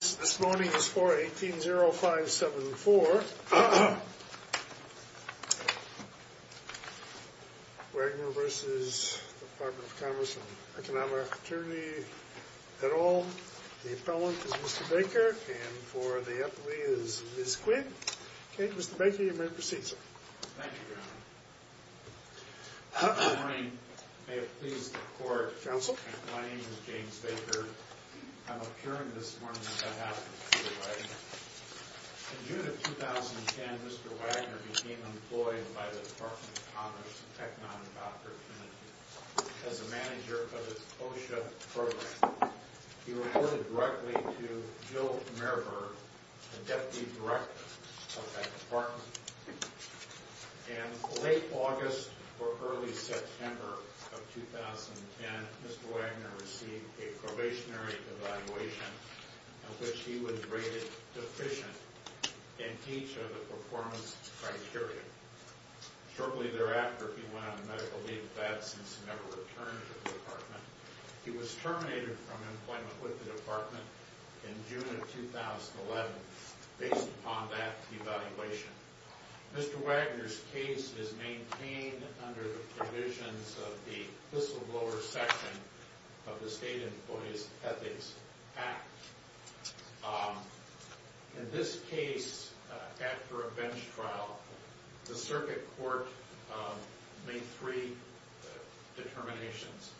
This morning is 4-18-05-74. Wagner v. Department of Commerce and Economic Opportunity, et al. The appellant is Mr. Baker and for the appellee is Ms. Quinn. Okay, Mr. Baker, you may proceed, sir. Thank you, Your Honor. Good morning. May it please the Court. Counsel. My name is James Baker. I'm appearing this morning on behalf of Mr. Wagner. In June of 2010, Mr. Wagner became employed by the Department of Commerce and Economic Opportunity as a manager of its OSHA program. He reported directly to Jill Merber, the deputy director of that department. In late August or early September of 2010, Mr. Wagner received a probationary evaluation in which he was rated deficient in each of the performance criteria. Shortly thereafter, he went on a medical leave of absence and never returned to the department. He was terminated from employment with the department in June of 2011 based upon that evaluation. Mr. Wagner's case is maintained under the provisions of the whistleblower section of the State Employees Ethics Act. In this case, after a bench trial, the circuit court made three determinations.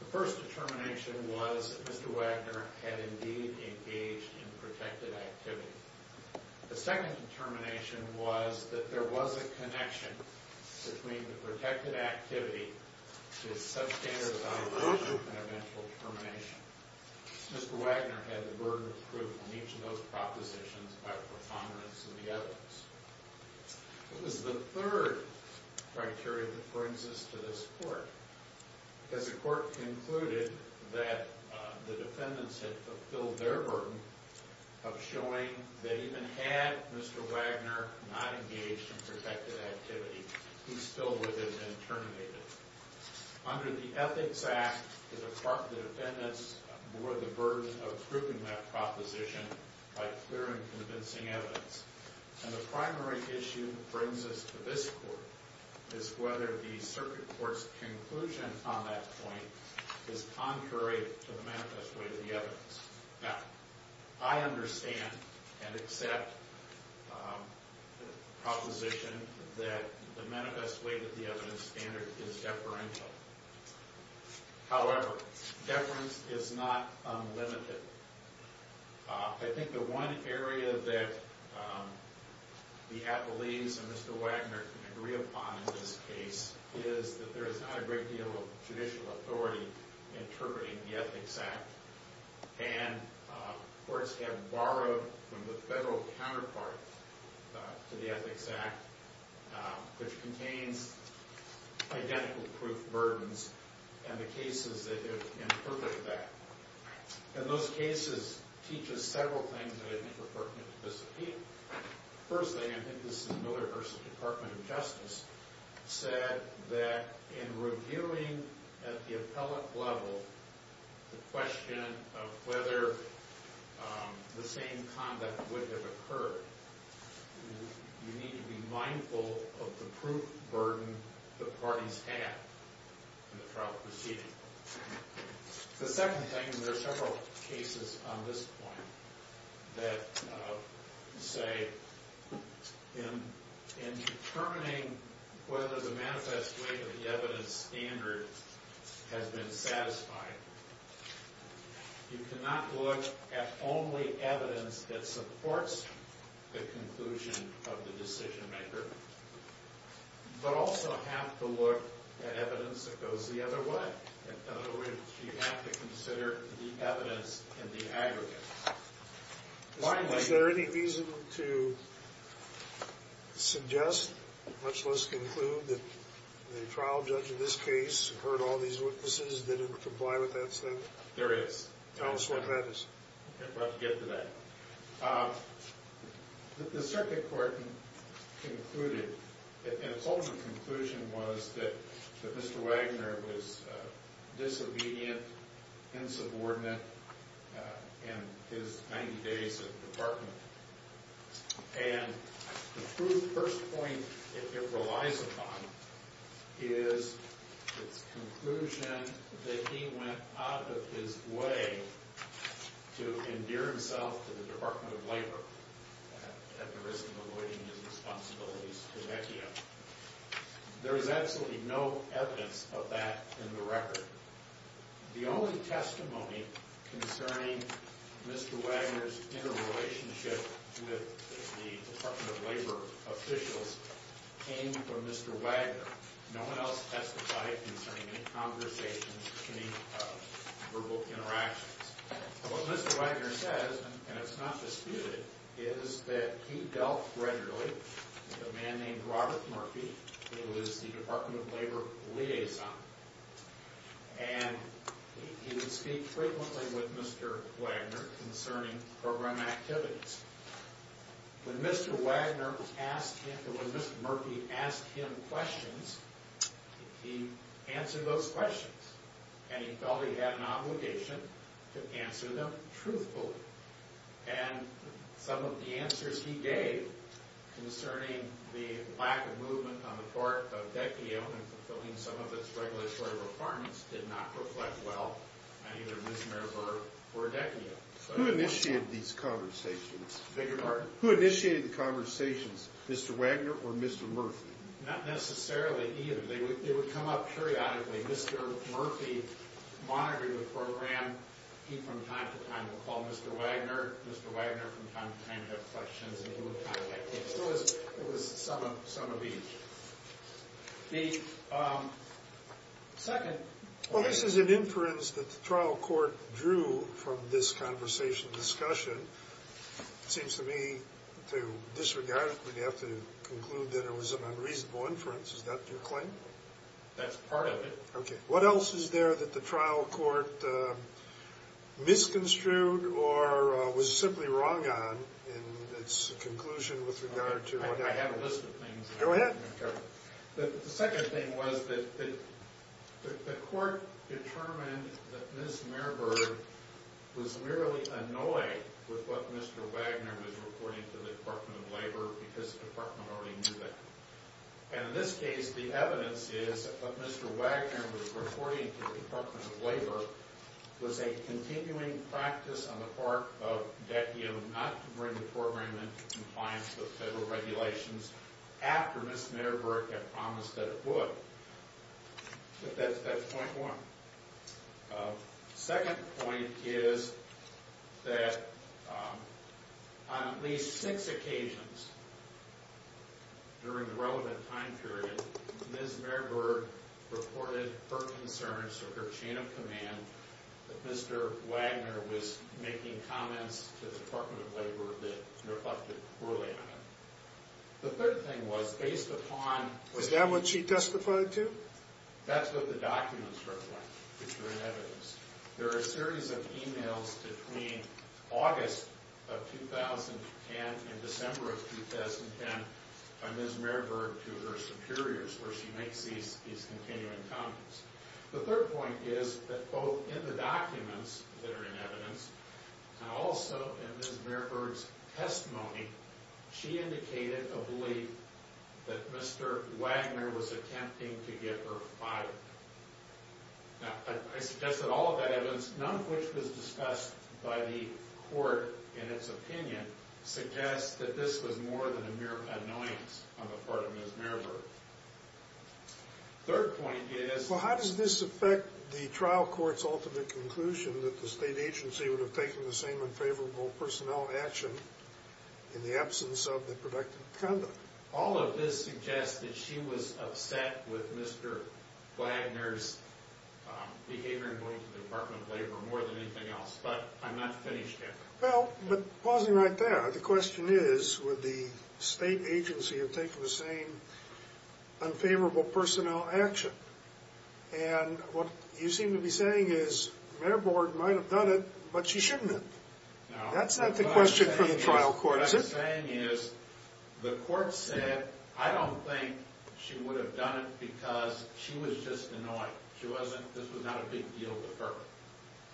The first determination was that Mr. Wagner had indeed engaged in protected activity. The second determination was that there was a connection between the protected activity, his substandardization, and eventual termination. Mr. Wagner had the burden of proof in each of those propositions by the preponderance of the evidence. It was the third criteria that brings us to this court. As the court concluded that the defendants had fulfilled their burden of showing that even had Mr. Wagner not engaged in protected activity, he still would have been terminated. Under the Ethics Act, the defendants bore the burden of proving that proposition by clear and convincing evidence. The primary issue that brings us to this court is whether the circuit court's conclusion on that point is contrary to the manifest way to the evidence. Now, I understand and accept the proposition that the manifest way to the evidence standard is deferential. However, deference is not unlimited. I think the one area that the appellees and Mr. Wagner can agree upon in this case is that there is not a great deal of judicial authority interpreting the Ethics Act. And courts have borrowed from the federal counterpart to the Ethics Act, which contains identical proof burdens, and the cases that interpret that. And those cases teach us several things that I think are pertinent to this appeal. Firstly, I think this is Miller versus Department of Justice, said that in reviewing at the appellate level the question of whether the same conduct would have occurred, you need to be mindful of the proof burden the parties had in the trial proceeding. The second thing is there are several cases on this point that say in determining whether the manifest way to the evidence standard has been satisfied, you cannot look at only evidence that supports the conclusion of the decision maker, but also have to look at evidence that goes the other way. In other words, you have to consider the evidence in the aggregate. Is there any reason to suggest, much less conclude, that the trial judge in this case heard all these witnesses, didn't comply with that statement? There is. Tell us what that is. I'm about to get to that. The circuit court concluded, and its ultimate conclusion was that Mr. Wagner was disobedient, insubordinate in his 90 days at the department. And the true first point it relies upon is its conclusion that he went out of his way to endear himself to the Department of Labor at the risk of avoiding his responsibilities to HECIA. There is absolutely no evidence of that in the record. The only testimony concerning Mr. Wagner's interrelationship with the Department of Labor officials came from Mr. Wagner. No one else testified concerning any conversations, any verbal interactions. What Mr. Wagner says, and it's not disputed, is that he dealt regularly with a man named Robert Murphy, who is the Department of Labor liaison. And he would speak frequently with Mr. Wagner concerning program activities. When Mr. Wagner asked him, or when Mr. Murphy asked him questions, he answered those questions. And he felt he had an obligation to answer them truthfully. And some of the answers he gave concerning the lack of movement on the part of HECIA in fulfilling some of its regulatory requirements did not reflect well on either Ms. Merber or HECIA. Who initiated these conversations? Beg your pardon? Who initiated the conversations, Mr. Wagner or Mr. Murphy? Not necessarily either. They would come up periodically. Mr. Murphy monitored the program. He, from time to time, would call Mr. Wagner. Mr. Wagner, from time to time, would have questions, and he would contact HECIA. It was some of each. The second. Well, this is an inference that the trial court drew from this conversation, discussion. It seems to me, to disregard it, we'd have to conclude that it was an unreasonable inference. Is that your claim? That's part of it. Okay. What else is there that the trial court misconstrued or was simply wrong on in its conclusion with regard to what happened? I have a list of things. Go ahead. The second thing was that the court determined that Ms. Merber was merely annoyed with what Mr. Wagner was reporting to the Department of Labor because the department already knew that. And in this case, the evidence is that what Mr. Wagner was reporting to the Department of Labor was a continuing practice on the part of DECU not to bring the program into compliance with federal regulations after Ms. Merber had promised that it would. But that's point one. Second point is that on at least six occasions during the relevant time period, Ms. Merber reported her concerns or her chain of command that Mr. Wagner was making comments to the Department of Labor that reflected poorly on him. The third thing was, based upon… Was that what she testified to? That's what the documents reflect, which are in evidence. There are a series of emails between August of 2010 and December of 2010 by Ms. Merber to her superiors where she makes these continuing comments. The third point is that both in the documents that are in evidence and also in Ms. Merber's testimony, she indicated a belief that Mr. Wagner was attempting to get her fired. Now, I suggest that all of that evidence, none of which was discussed by the court in its opinion, suggests that this was more than a mere annoyance on the part of Ms. Merber. Third point is… Well, how does this affect the trial court's ultimate conclusion that the state agency would have taken the same unfavorable personnel action in the absence of the productive conduct? All of this suggests that she was upset with Mr. Wagner's behavior in going to the Department of Labor more than anything else. But I'm not finished yet. Well, but pausing right there, the question is, would the state agency have taken the same unfavorable personnel action? And what you seem to be saying is, Merber might have done it, but she shouldn't have. That's not the question for the trial court, is it? What I'm saying is, the court said, I don't think she would have done it because she was just annoyed. This was not a big deal to her.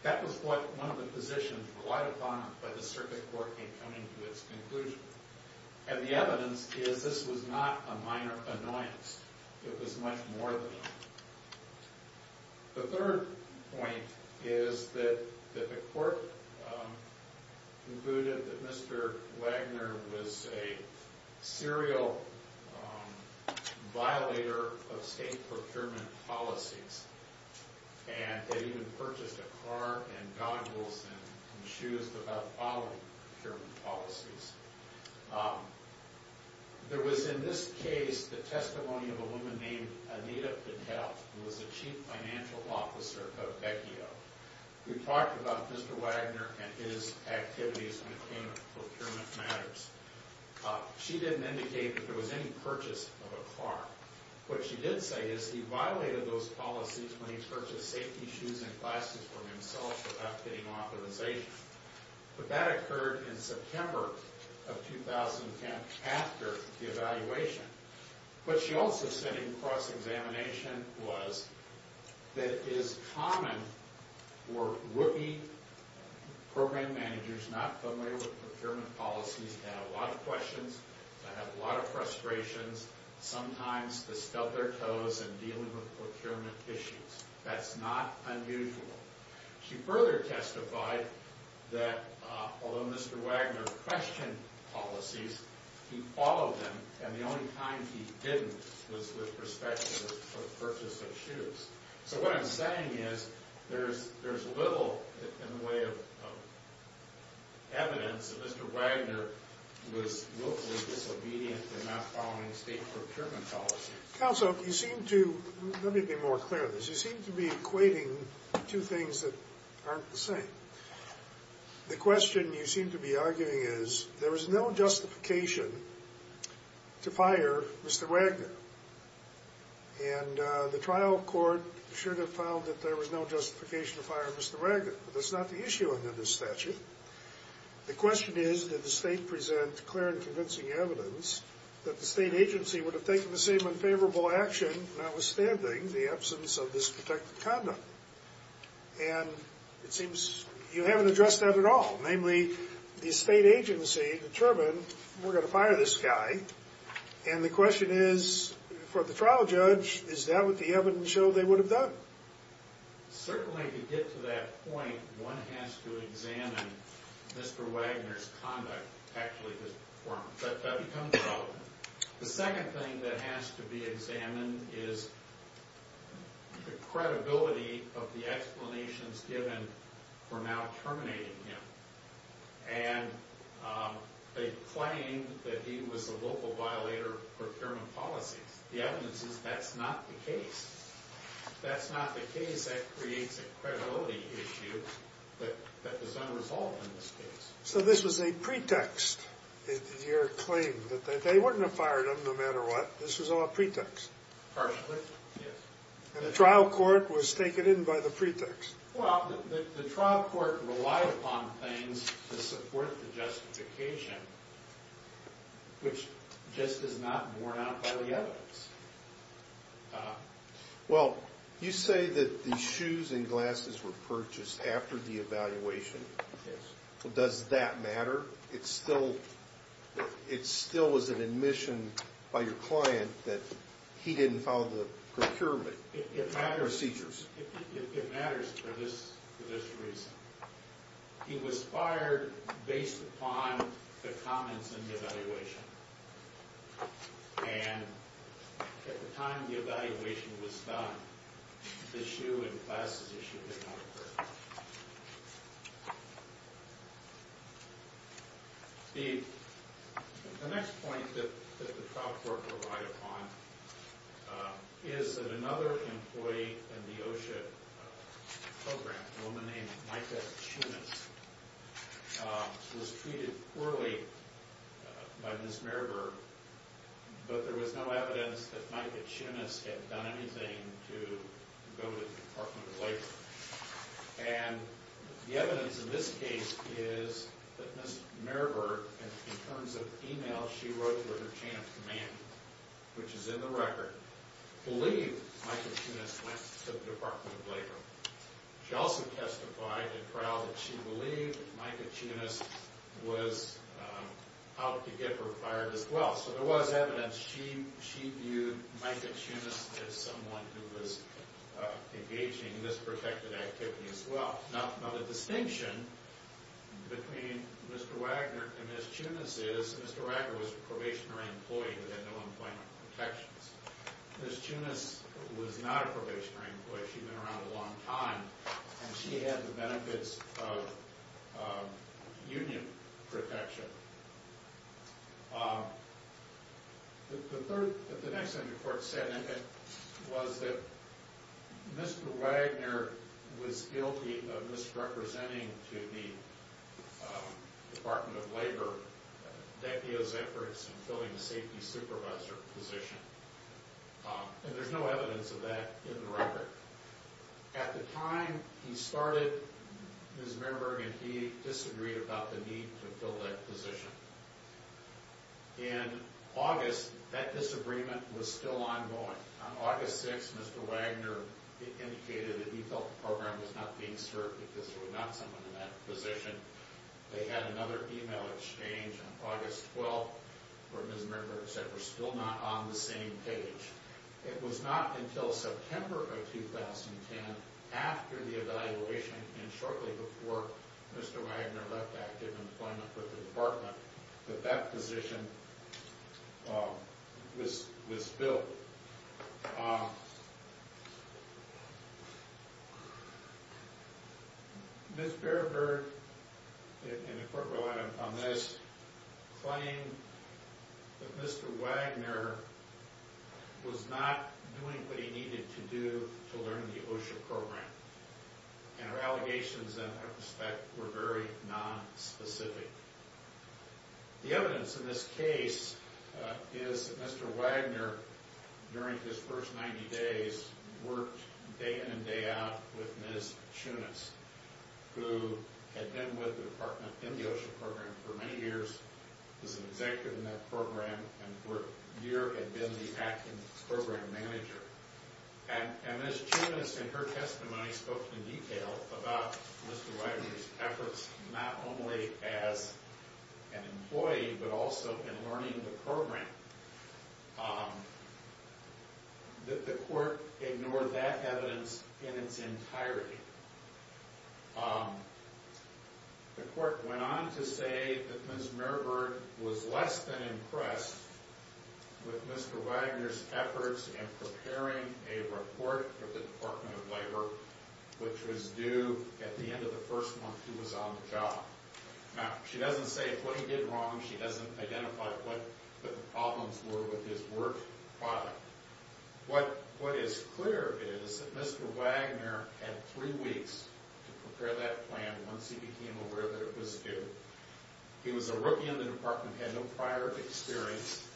That was what one of the positions relied upon by the circuit court in coming to its conclusion. And the evidence is this was not a minor annoyance. It was much more than that. The third point is that the court concluded that Mr. Wagner was a serial violator of state procurement policies and had even purchased a car and goggles and shoes without following procurement policies. There was in this case the testimony of a woman named Anita Patel, who was the chief financial officer of Bekio. We talked about Mr. Wagner and his activities when it came to procurement matters. She didn't indicate that there was any purchase of a car. What she did say is he violated those policies when he purchased safety shoes and glasses for himself without getting authorization. But that occurred in September of 2010 after the evaluation. What she also said in cross-examination was that it is common for rookie program managers not familiar with procurement policies to have a lot of questions, to have a lot of frustrations. Sometimes to stub their toes in dealing with procurement issues. That's not unusual. She further testified that although Mr. Wagner questioned policies, he followed them. And the only time he didn't was with respect to the purchase of shoes. So what I'm saying is there's little in the way of evidence that Mr. Wagner was willfully disobedient in not following state procurement policies. Counsel, you seem to, let me be more clear on this, you seem to be equating two things that aren't the same. The question you seem to be arguing is there was no justification to fire Mr. Wagner. And the trial court should have found that there was no justification to fire Mr. Wagner. But that's not the issue under this statute. The question is did the state present clear and convincing evidence that the state agency would have taken the same unfavorable action, notwithstanding the absence of this protected conduct. And it seems you haven't addressed that at all. Namely, the state agency determined we're going to fire this guy. And the question is, for the trial judge, is that what the evidence showed they would have done? Certainly to get to that point, one has to examine Mr. Wagner's conduct, actually his performance. That becomes relevant. The second thing that has to be examined is the credibility of the explanations given for not terminating him. And they claim that he was a local violator of procurement policies. The evidence is that's not the case. That's not the case that creates a credibility issue that is unresolved in this case. So this was a pretext, your claim, that they wouldn't have fired him no matter what. This was all a pretext. Partially, yes. And the trial court was taken in by the pretext. Well, the trial court relied upon things to support the justification, which just is not borne out by the evidence. Well, you say that the shoes and glasses were purchased after the evaluation. Yes. Does that matter? It still was an admission by your client that he didn't follow the procurement procedures. It matters for this reason. He was fired based upon the comments in the evaluation. And at the time the evaluation was done, the shoe and glasses issue did not occur. The next point that the trial court relied upon is that another employee in the OSHA program, a woman named Micah Chinnis, was treated poorly by Ms. Meriburg, but there was no evidence that Micah Chinnis had done anything to go to the Department of Labor. And the evidence in this case is that Ms. Meriburg, in terms of e-mails she wrote to her chance command, which is in the record, believed Micah Chinnis went to the Department of Labor. She also testified in trial that she believed Micah Chinnis was out to get her fired as well. So there was evidence. She viewed Micah Chinnis as someone who was engaging in this protected activity as well. Now, the distinction between Mr. Wagner and Ms. Chinnis is Mr. Wagner was a probationary employee who had no employment protections. Ms. Chinnis was not a probationary employee. She'd been around a long time, and she had the benefits of union protection. The next thing the court said was that Mr. Wagner was guilty of misrepresenting to the Department of Labor deputies' efforts in filling a safety supervisor position. And there's no evidence of that in the record. At the time he started, Ms. Meriburg and he disagreed about the need to fill that position. In August, that disagreement was still ongoing. On August 6th, Mr. Wagner indicated that he felt the program was not being served because there was not someone in that position. They had another email exchange on August 12th where Ms. Meriburg said we're still not on the same page. It was not until September of 2010, after the evaluation and shortly before Mr. Wagner left active employment with the Department, that that position was filled. Ms. Meriburg, and the court relied on this, claimed that Mr. Wagner was not doing what he needed to do to learn the OSHA program. And her allegations in that respect were very nonspecific. The evidence in this case is that Mr. Wagner, during his first 90 days, worked day in and day out with Ms. Chunas, who had been with the Department in the OSHA program for many years, was an executive in that program, and for a year had been the acting program manager. And Ms. Chunas, in her testimony, spoke in detail about Mr. Wagner's efforts, not only as an employee, but also in learning the program. The court ignored that evidence in its entirety. The court went on to say that Ms. Meriburg was less than impressed with Mr. Wagner's efforts in preparing a report for the Department of Labor, which was due at the end of the first month he was on the job. Now, she doesn't say what he did wrong, she doesn't identify what the problems were with his work product. What is clear is that Mr. Wagner had three weeks to prepare that plan once he became aware that it was due. He was a rookie in the department, had no prior experience.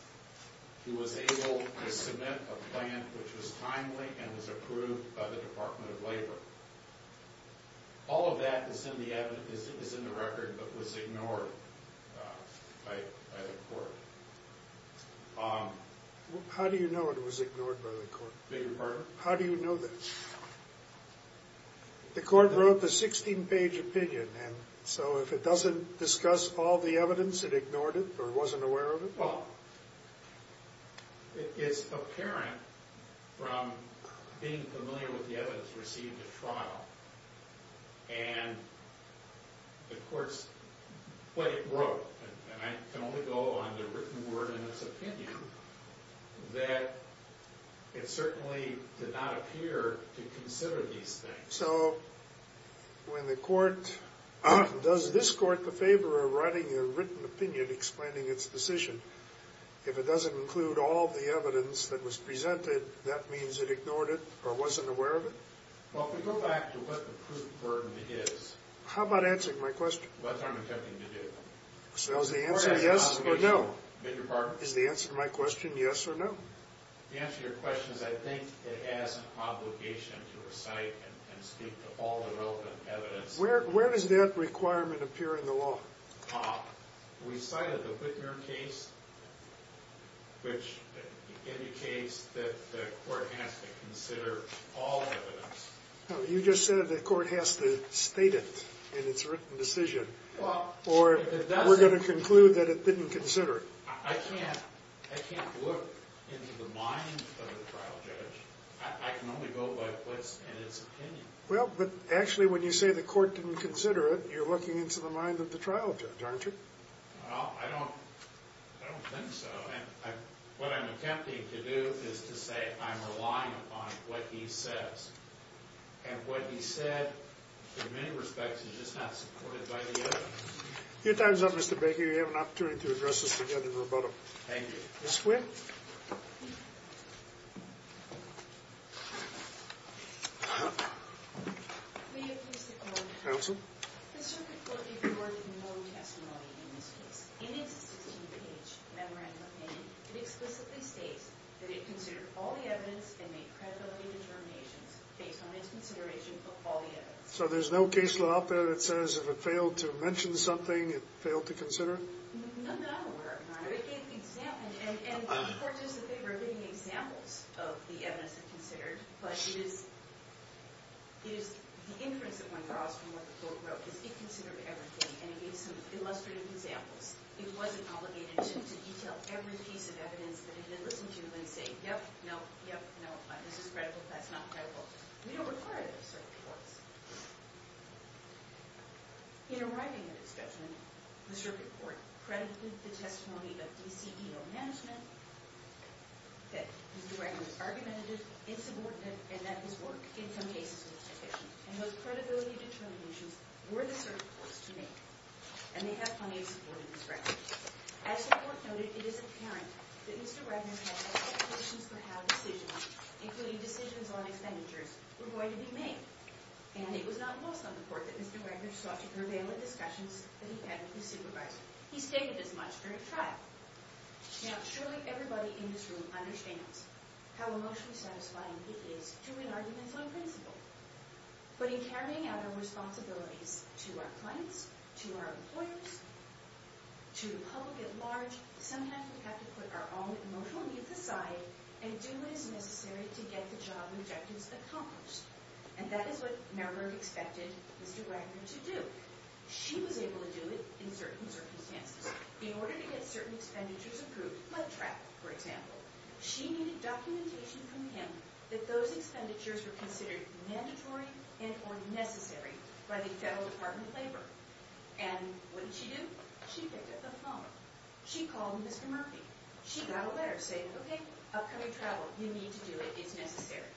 He was able to submit a plan which was timely and was approved by the Department of Labor. All of that is in the record, but was ignored by the court. How do you know it was ignored by the court? Beg your pardon? How do you know that? The court wrote the 16-page opinion, and so if it doesn't discuss all the evidence, it ignored it, or wasn't aware of it? Well, it's apparent from being familiar with the evidence received at trial. And, of course, what it wrote, and I can only go on the written word in its opinion, that it certainly did not appear to consider these things. So, when the court, does this court the favor of writing a written opinion explaining its decision? If it doesn't include all the evidence that was presented, that means it ignored it, or wasn't aware of it? Well, if we go back to what the proof burden is. How about answering my question? What I'm attempting to do. So is the answer yes or no? Beg your pardon? Is the answer to my question yes or no? The answer to your question is I think it has an obligation to recite and speak to all the relevant evidence. Where does that requirement appear in the law? We cited the Whitmer case, which indicates that the court has to consider all evidence. You just said the court has to state it in its written decision, or we're going to conclude that it didn't consider it. I can't look into the mind of the trial judge. I can only go by what's in its opinion. Well, but actually when you say the court didn't consider it, you're looking into the mind of the trial judge, aren't you? Well, I don't think so. What I'm attempting to do is to say I'm relying upon what he says. And what he said, in many respects, is just not supported by the evidence. Your time's up, Mr. Baker. You have an opportunity to address this together in rebuttal. Thank you. Ms. Quinn? Counsel? The circuit court ignored the known testimony in this case. In its 16-page memorandum of opinion, it explicitly states that it considered all the evidence and made credibility determinations based on its consideration of all the evidence. So there's no case law out there that says if it failed to mention something, it failed to consider it? I'm not aware of none of it. And the court says that they were giving examples of the evidence it considered. But it is the inference that one draws from what the court wrote is it considered everything. And it gave some illustrative examples. It wasn't obligated to detail every piece of evidence that it had listened to and say, yep, no, yep, no, this is credible, that's not credible. We don't require those circuit courts. In arriving at its judgment, the circuit court credited the testimony of DCEO management that Mr. Wagner was argumentative, insubordinate, and that his work in some cases was deficient. And those credibility determinations were the circuit court's to make. And they have plenty of support in this record. As the court noted, it is apparent that Mr. Wagner had expectations for how decisions, including decisions on expenditures, were going to be made. And it was not lost on the court that Mr. Wagner sought to prevail in discussions that he had with his supervisor. He stated as much during trial. Now, surely everybody in this room understands how emotionally satisfying it is to win arguments on principle. But in carrying out our responsibilities to our clients, to our employers, to the public at large, sometimes we have to put our own emotional needs aside and do what is necessary to get the job objectives accomplished. And that is what Marburg expected Mr. Wagner to do. She was able to do it in certain circumstances. In order to get certain expenditures approved, like travel, for example, she needed documentation from him that those expenditures were considered mandatory and or necessary by the Federal Department of Labor. And what did she do? She picked up the phone. She called Mr. Murphy. She got a letter saying, okay, upcoming travel. You need to do it. It's necessary.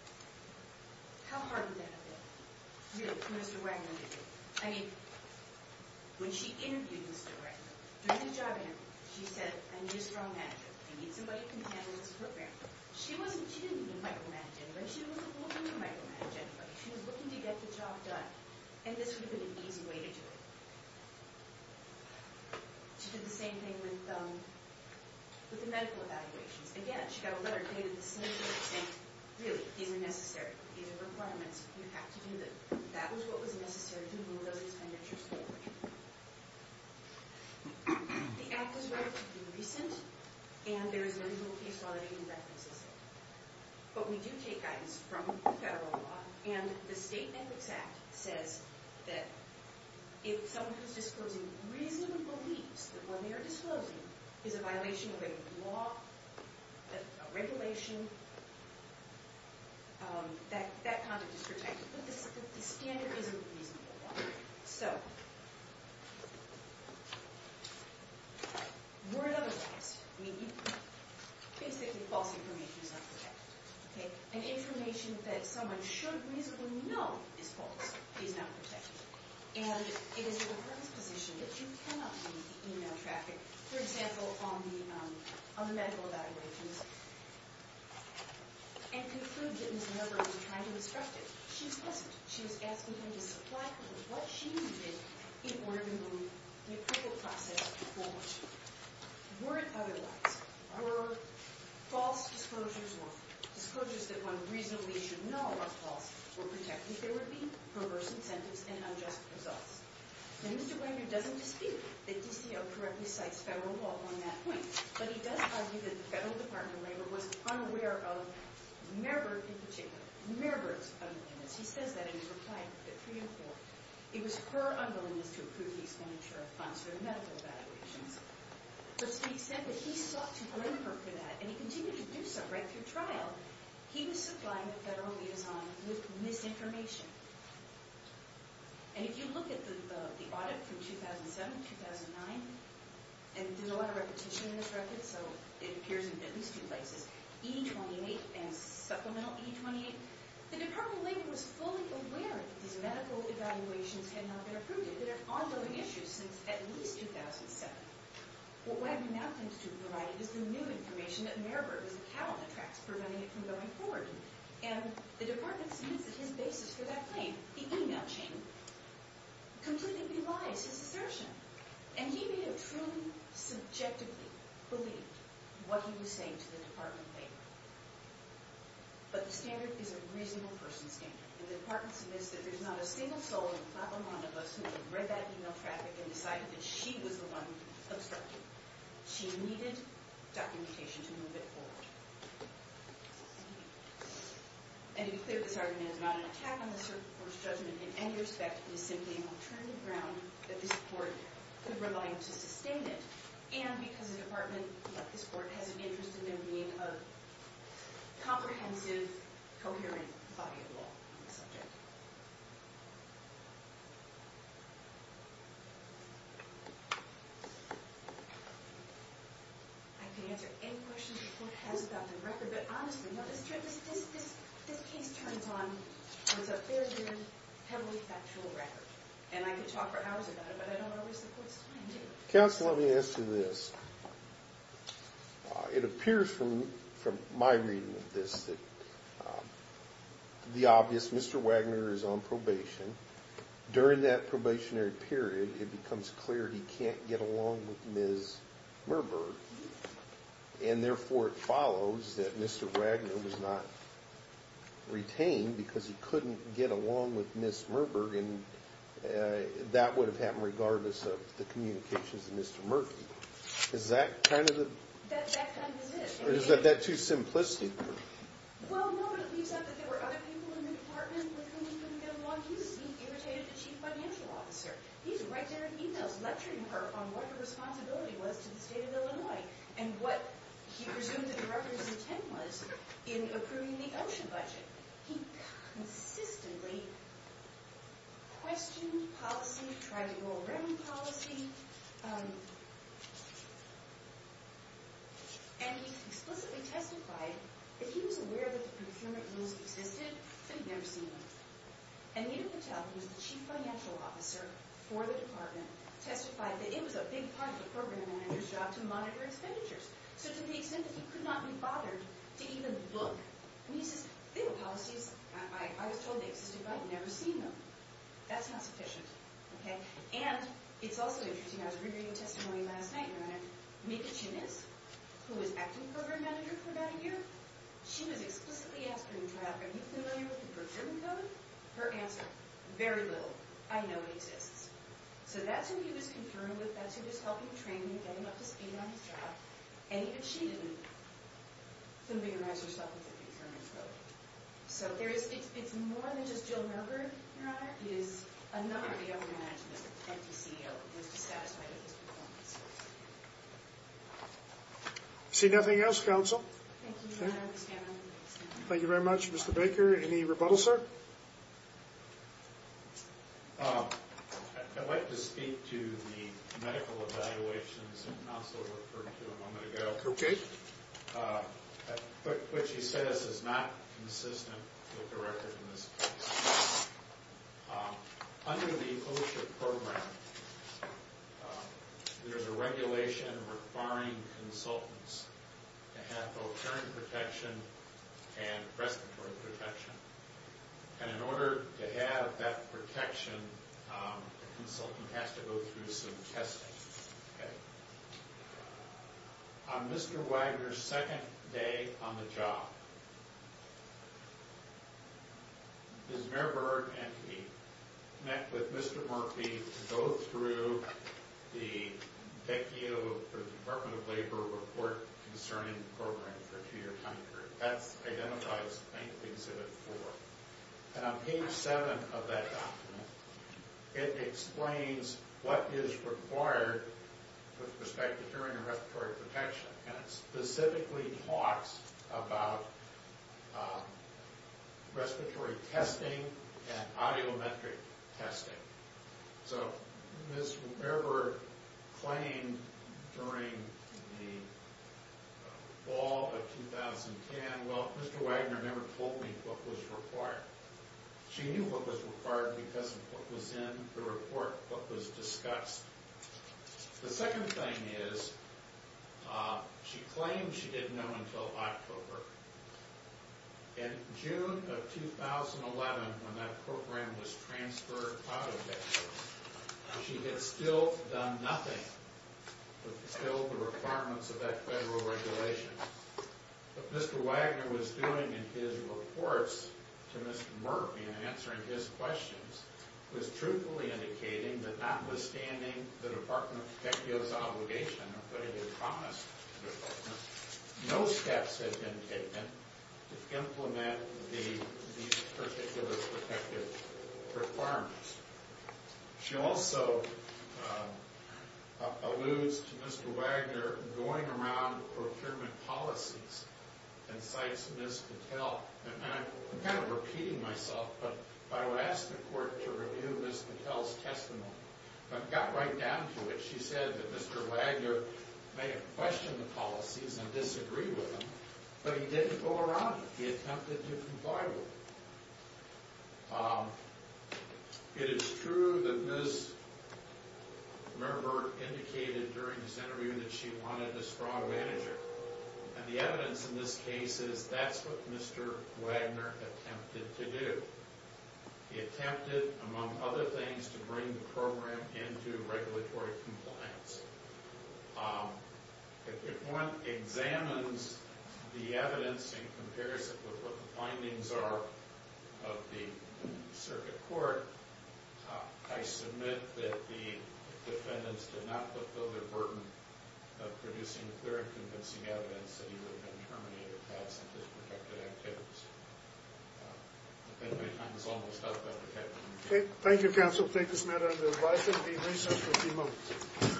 How hard would that have been, really, for Mr. Wagner to do? I mean, when she interviewed Mr. Wagner, during the job interview, she said, I need a strong manager. I need somebody who can handle this program. She wasn't looking to micromanage anybody. She wasn't looking to micromanage anybody. She was looking to get the job done. And this would have been an easy way to do it. She did the same thing with the medical evaluations. Again, she got a letter dated the same day saying, really, these are necessary. These are requirements. You have to do them. That was what was necessary to move those expenditures forward. The act was relatively recent, and there is no legal case law that even references it. But we do take guidance from the federal law. And the state metrics act says that if someone who is disclosing reasonable beliefs that what they are disclosing is a violation of a law, a regulation, that conduct is protected. But the standard isn't a reasonable one. So we're at other times. I mean, basically, false information is not protected. And information that someone should reasonably know is false, is not protected. And it is in the firm's position that you cannot be in email traffic, for example, on the medical evaluations, and conclude that Ms. Milberg was trying to disrupt it. She wasn't. She was asking them to supply her with what she needed in order to move the approval process forward. Were it otherwise, her false disclosures or disclosures that one reasonably should know are false were protected. There would be perverse incentives and unjust results. Now, Mr. Wagner doesn't dispute that DCL correctly cites federal law on that point. But he does argue that the federal department of labor was unaware of Mayorberg in particular, Mayorberg's unwillingness. He says that in his reply to the three and four. It was her unwillingness to approve the expenditure of funds for the medical evaluations. But to the extent that he sought to blame her for that, and he continued to do so right through trial, he was supplying the federal liaison with misinformation. And if you look at the audit from 2007-2009, and there's a lot of repetition in this record, so it appears in at least two places. E-28 and supplemental E-28. The department of labor was fully aware that these medical evaluations had not been approved yet. They were ongoing issues since at least 2007. What Wagner now claims to have provided is the new information that Mayorberg's account attracts, preventing it from going forward. And the department sees that his basis for that claim, the e-mail chain, completely lies his assertion. And he may have truly subjectively believed what he was saying to the department of labor. But the standard is a reasonable person's standard. And the department submits that there's not a single soul in the top amount of us who have read that e-mail traffic and decided that she was the one obstructing. She needed documentation to move it forward. And to be clear, this argument is not an attack on the court's judgment in any respect. It is simply an alternative ground that this court could rely on to sustain it. And because the department, like this court, has an interest in there being a comprehensive, coherent body of law on the subject. I can answer any questions the court has about the record. But honestly, this case turns on a fairly heavily factual record. And I could talk for hours about it, but I don't want to waste the court's time, do you? Counsel, let me ask you this. It appears from my reading of this that the obvious, Mr. Wagner is on probation. During that probationary period, it becomes clear he can't get along with Ms. Merberg. And therefore, it follows that Mr. Wagner was not retained because he couldn't get along with Ms. Merberg. And that would have happened regardless of the communications of Mr. Murphy. Is that kind of the... That kind of is it. Or is that too simplistic? Well, no, but it leaves out that there were other people in the department with whom he couldn't get along. He seemed irritated at the chief financial officer. He's right there in e-mails lecturing her on what her responsibility was to the state of Illinois. And what he presumed that the record's intent was in approving the ocean budget. He consistently questioned policy, tried to go around policy. And he explicitly testified that he was aware that the procurement rules existed, but he'd never seen one. And Anita Patel, who was the chief financial officer for the department, testified that it was a big part of the program manager's job to monitor expenditures. So to the extent that he could not be bothered to even look. And he says, they were policies. I was told they existed, but I'd never seen them. That's not sufficient. Okay? And it's also interesting. I was reading a testimony last night, and I read it. Mika Chinnis, who was acting program manager for about a year, she was explicitly asked her in trial, are you familiar with the procurement code? Her answer, very little. I know it exists. So that's who he was conferring with. That's who was helping train him, getting him up to speed on his job. And even she didn't familiarize herself with the procurement code. So it's more than just Jill Merger, Your Honor. It is a number of the other management and the CEO was dissatisfied with his performance. See nothing else, counsel? Thank you, Your Honor. I understand that. Any rebuttal, sir? I'd like to speak to the medical evaluations counsel referred to a moment ago. Okay. Which he says is not consistent with the record in this case. Under the OSHA program, there's a regulation requiring consultants to have both parent protection and respiratory protection. And in order to have that protection, the consultant has to go through some testing. Okay. On Mr. Wagner's second day on the job, Ms. Merberg and he met with Mr. Murphy to go through the DECIO, the Department of Labor Report Concerning Program for a two-year time period. That identifies I think exhibit four. And on page seven of that document, it explains what is required with respect to hearing and respiratory protection. And it specifically talks about respiratory testing and audiometric testing. So Ms. Merberg claimed during the fall of 2010, well, Mr. Wagner never told me what was required. She knew what was required because of what was in the report, what was discussed. The second thing is she claimed she didn't know until October. In June of 2011, when that program was transferred out of DECIO, she had still done nothing to fulfill the requirements of that federal regulation. What Mr. Wagner was doing in his reports to Mr. Murphy and answering his questions was truthfully indicating that notwithstanding the Department of DECIO's obligation, nobody had promised the Department, no steps had been taken to implement these particular protective requirements. She also alludes to Mr. Wagner going around procurement policies and cites Ms. Patel. And I'm kind of repeating myself, but I would ask the court to review Ms. Patel's testimony. But it got right down to it. She said that Mr. Wagner may have questioned the policies and disagreed with them, but he didn't go around it. He attempted to comply with them. It is true that Ms. Merberg indicated during this interview that she wanted a straw manager. And the evidence in this case is that's what Mr. Wagner attempted to do. He attempted, among other things, to bring the program into regulatory compliance. If one examines the evidence in comparison with what the findings are of the circuit court, I submit that the defendants did not fulfill their burden of producing clear and convincing evidence that he would have been terminated if he had some disprotected activities. Thank you, counsel. I take this matter under advice and will be in recess for a few moments.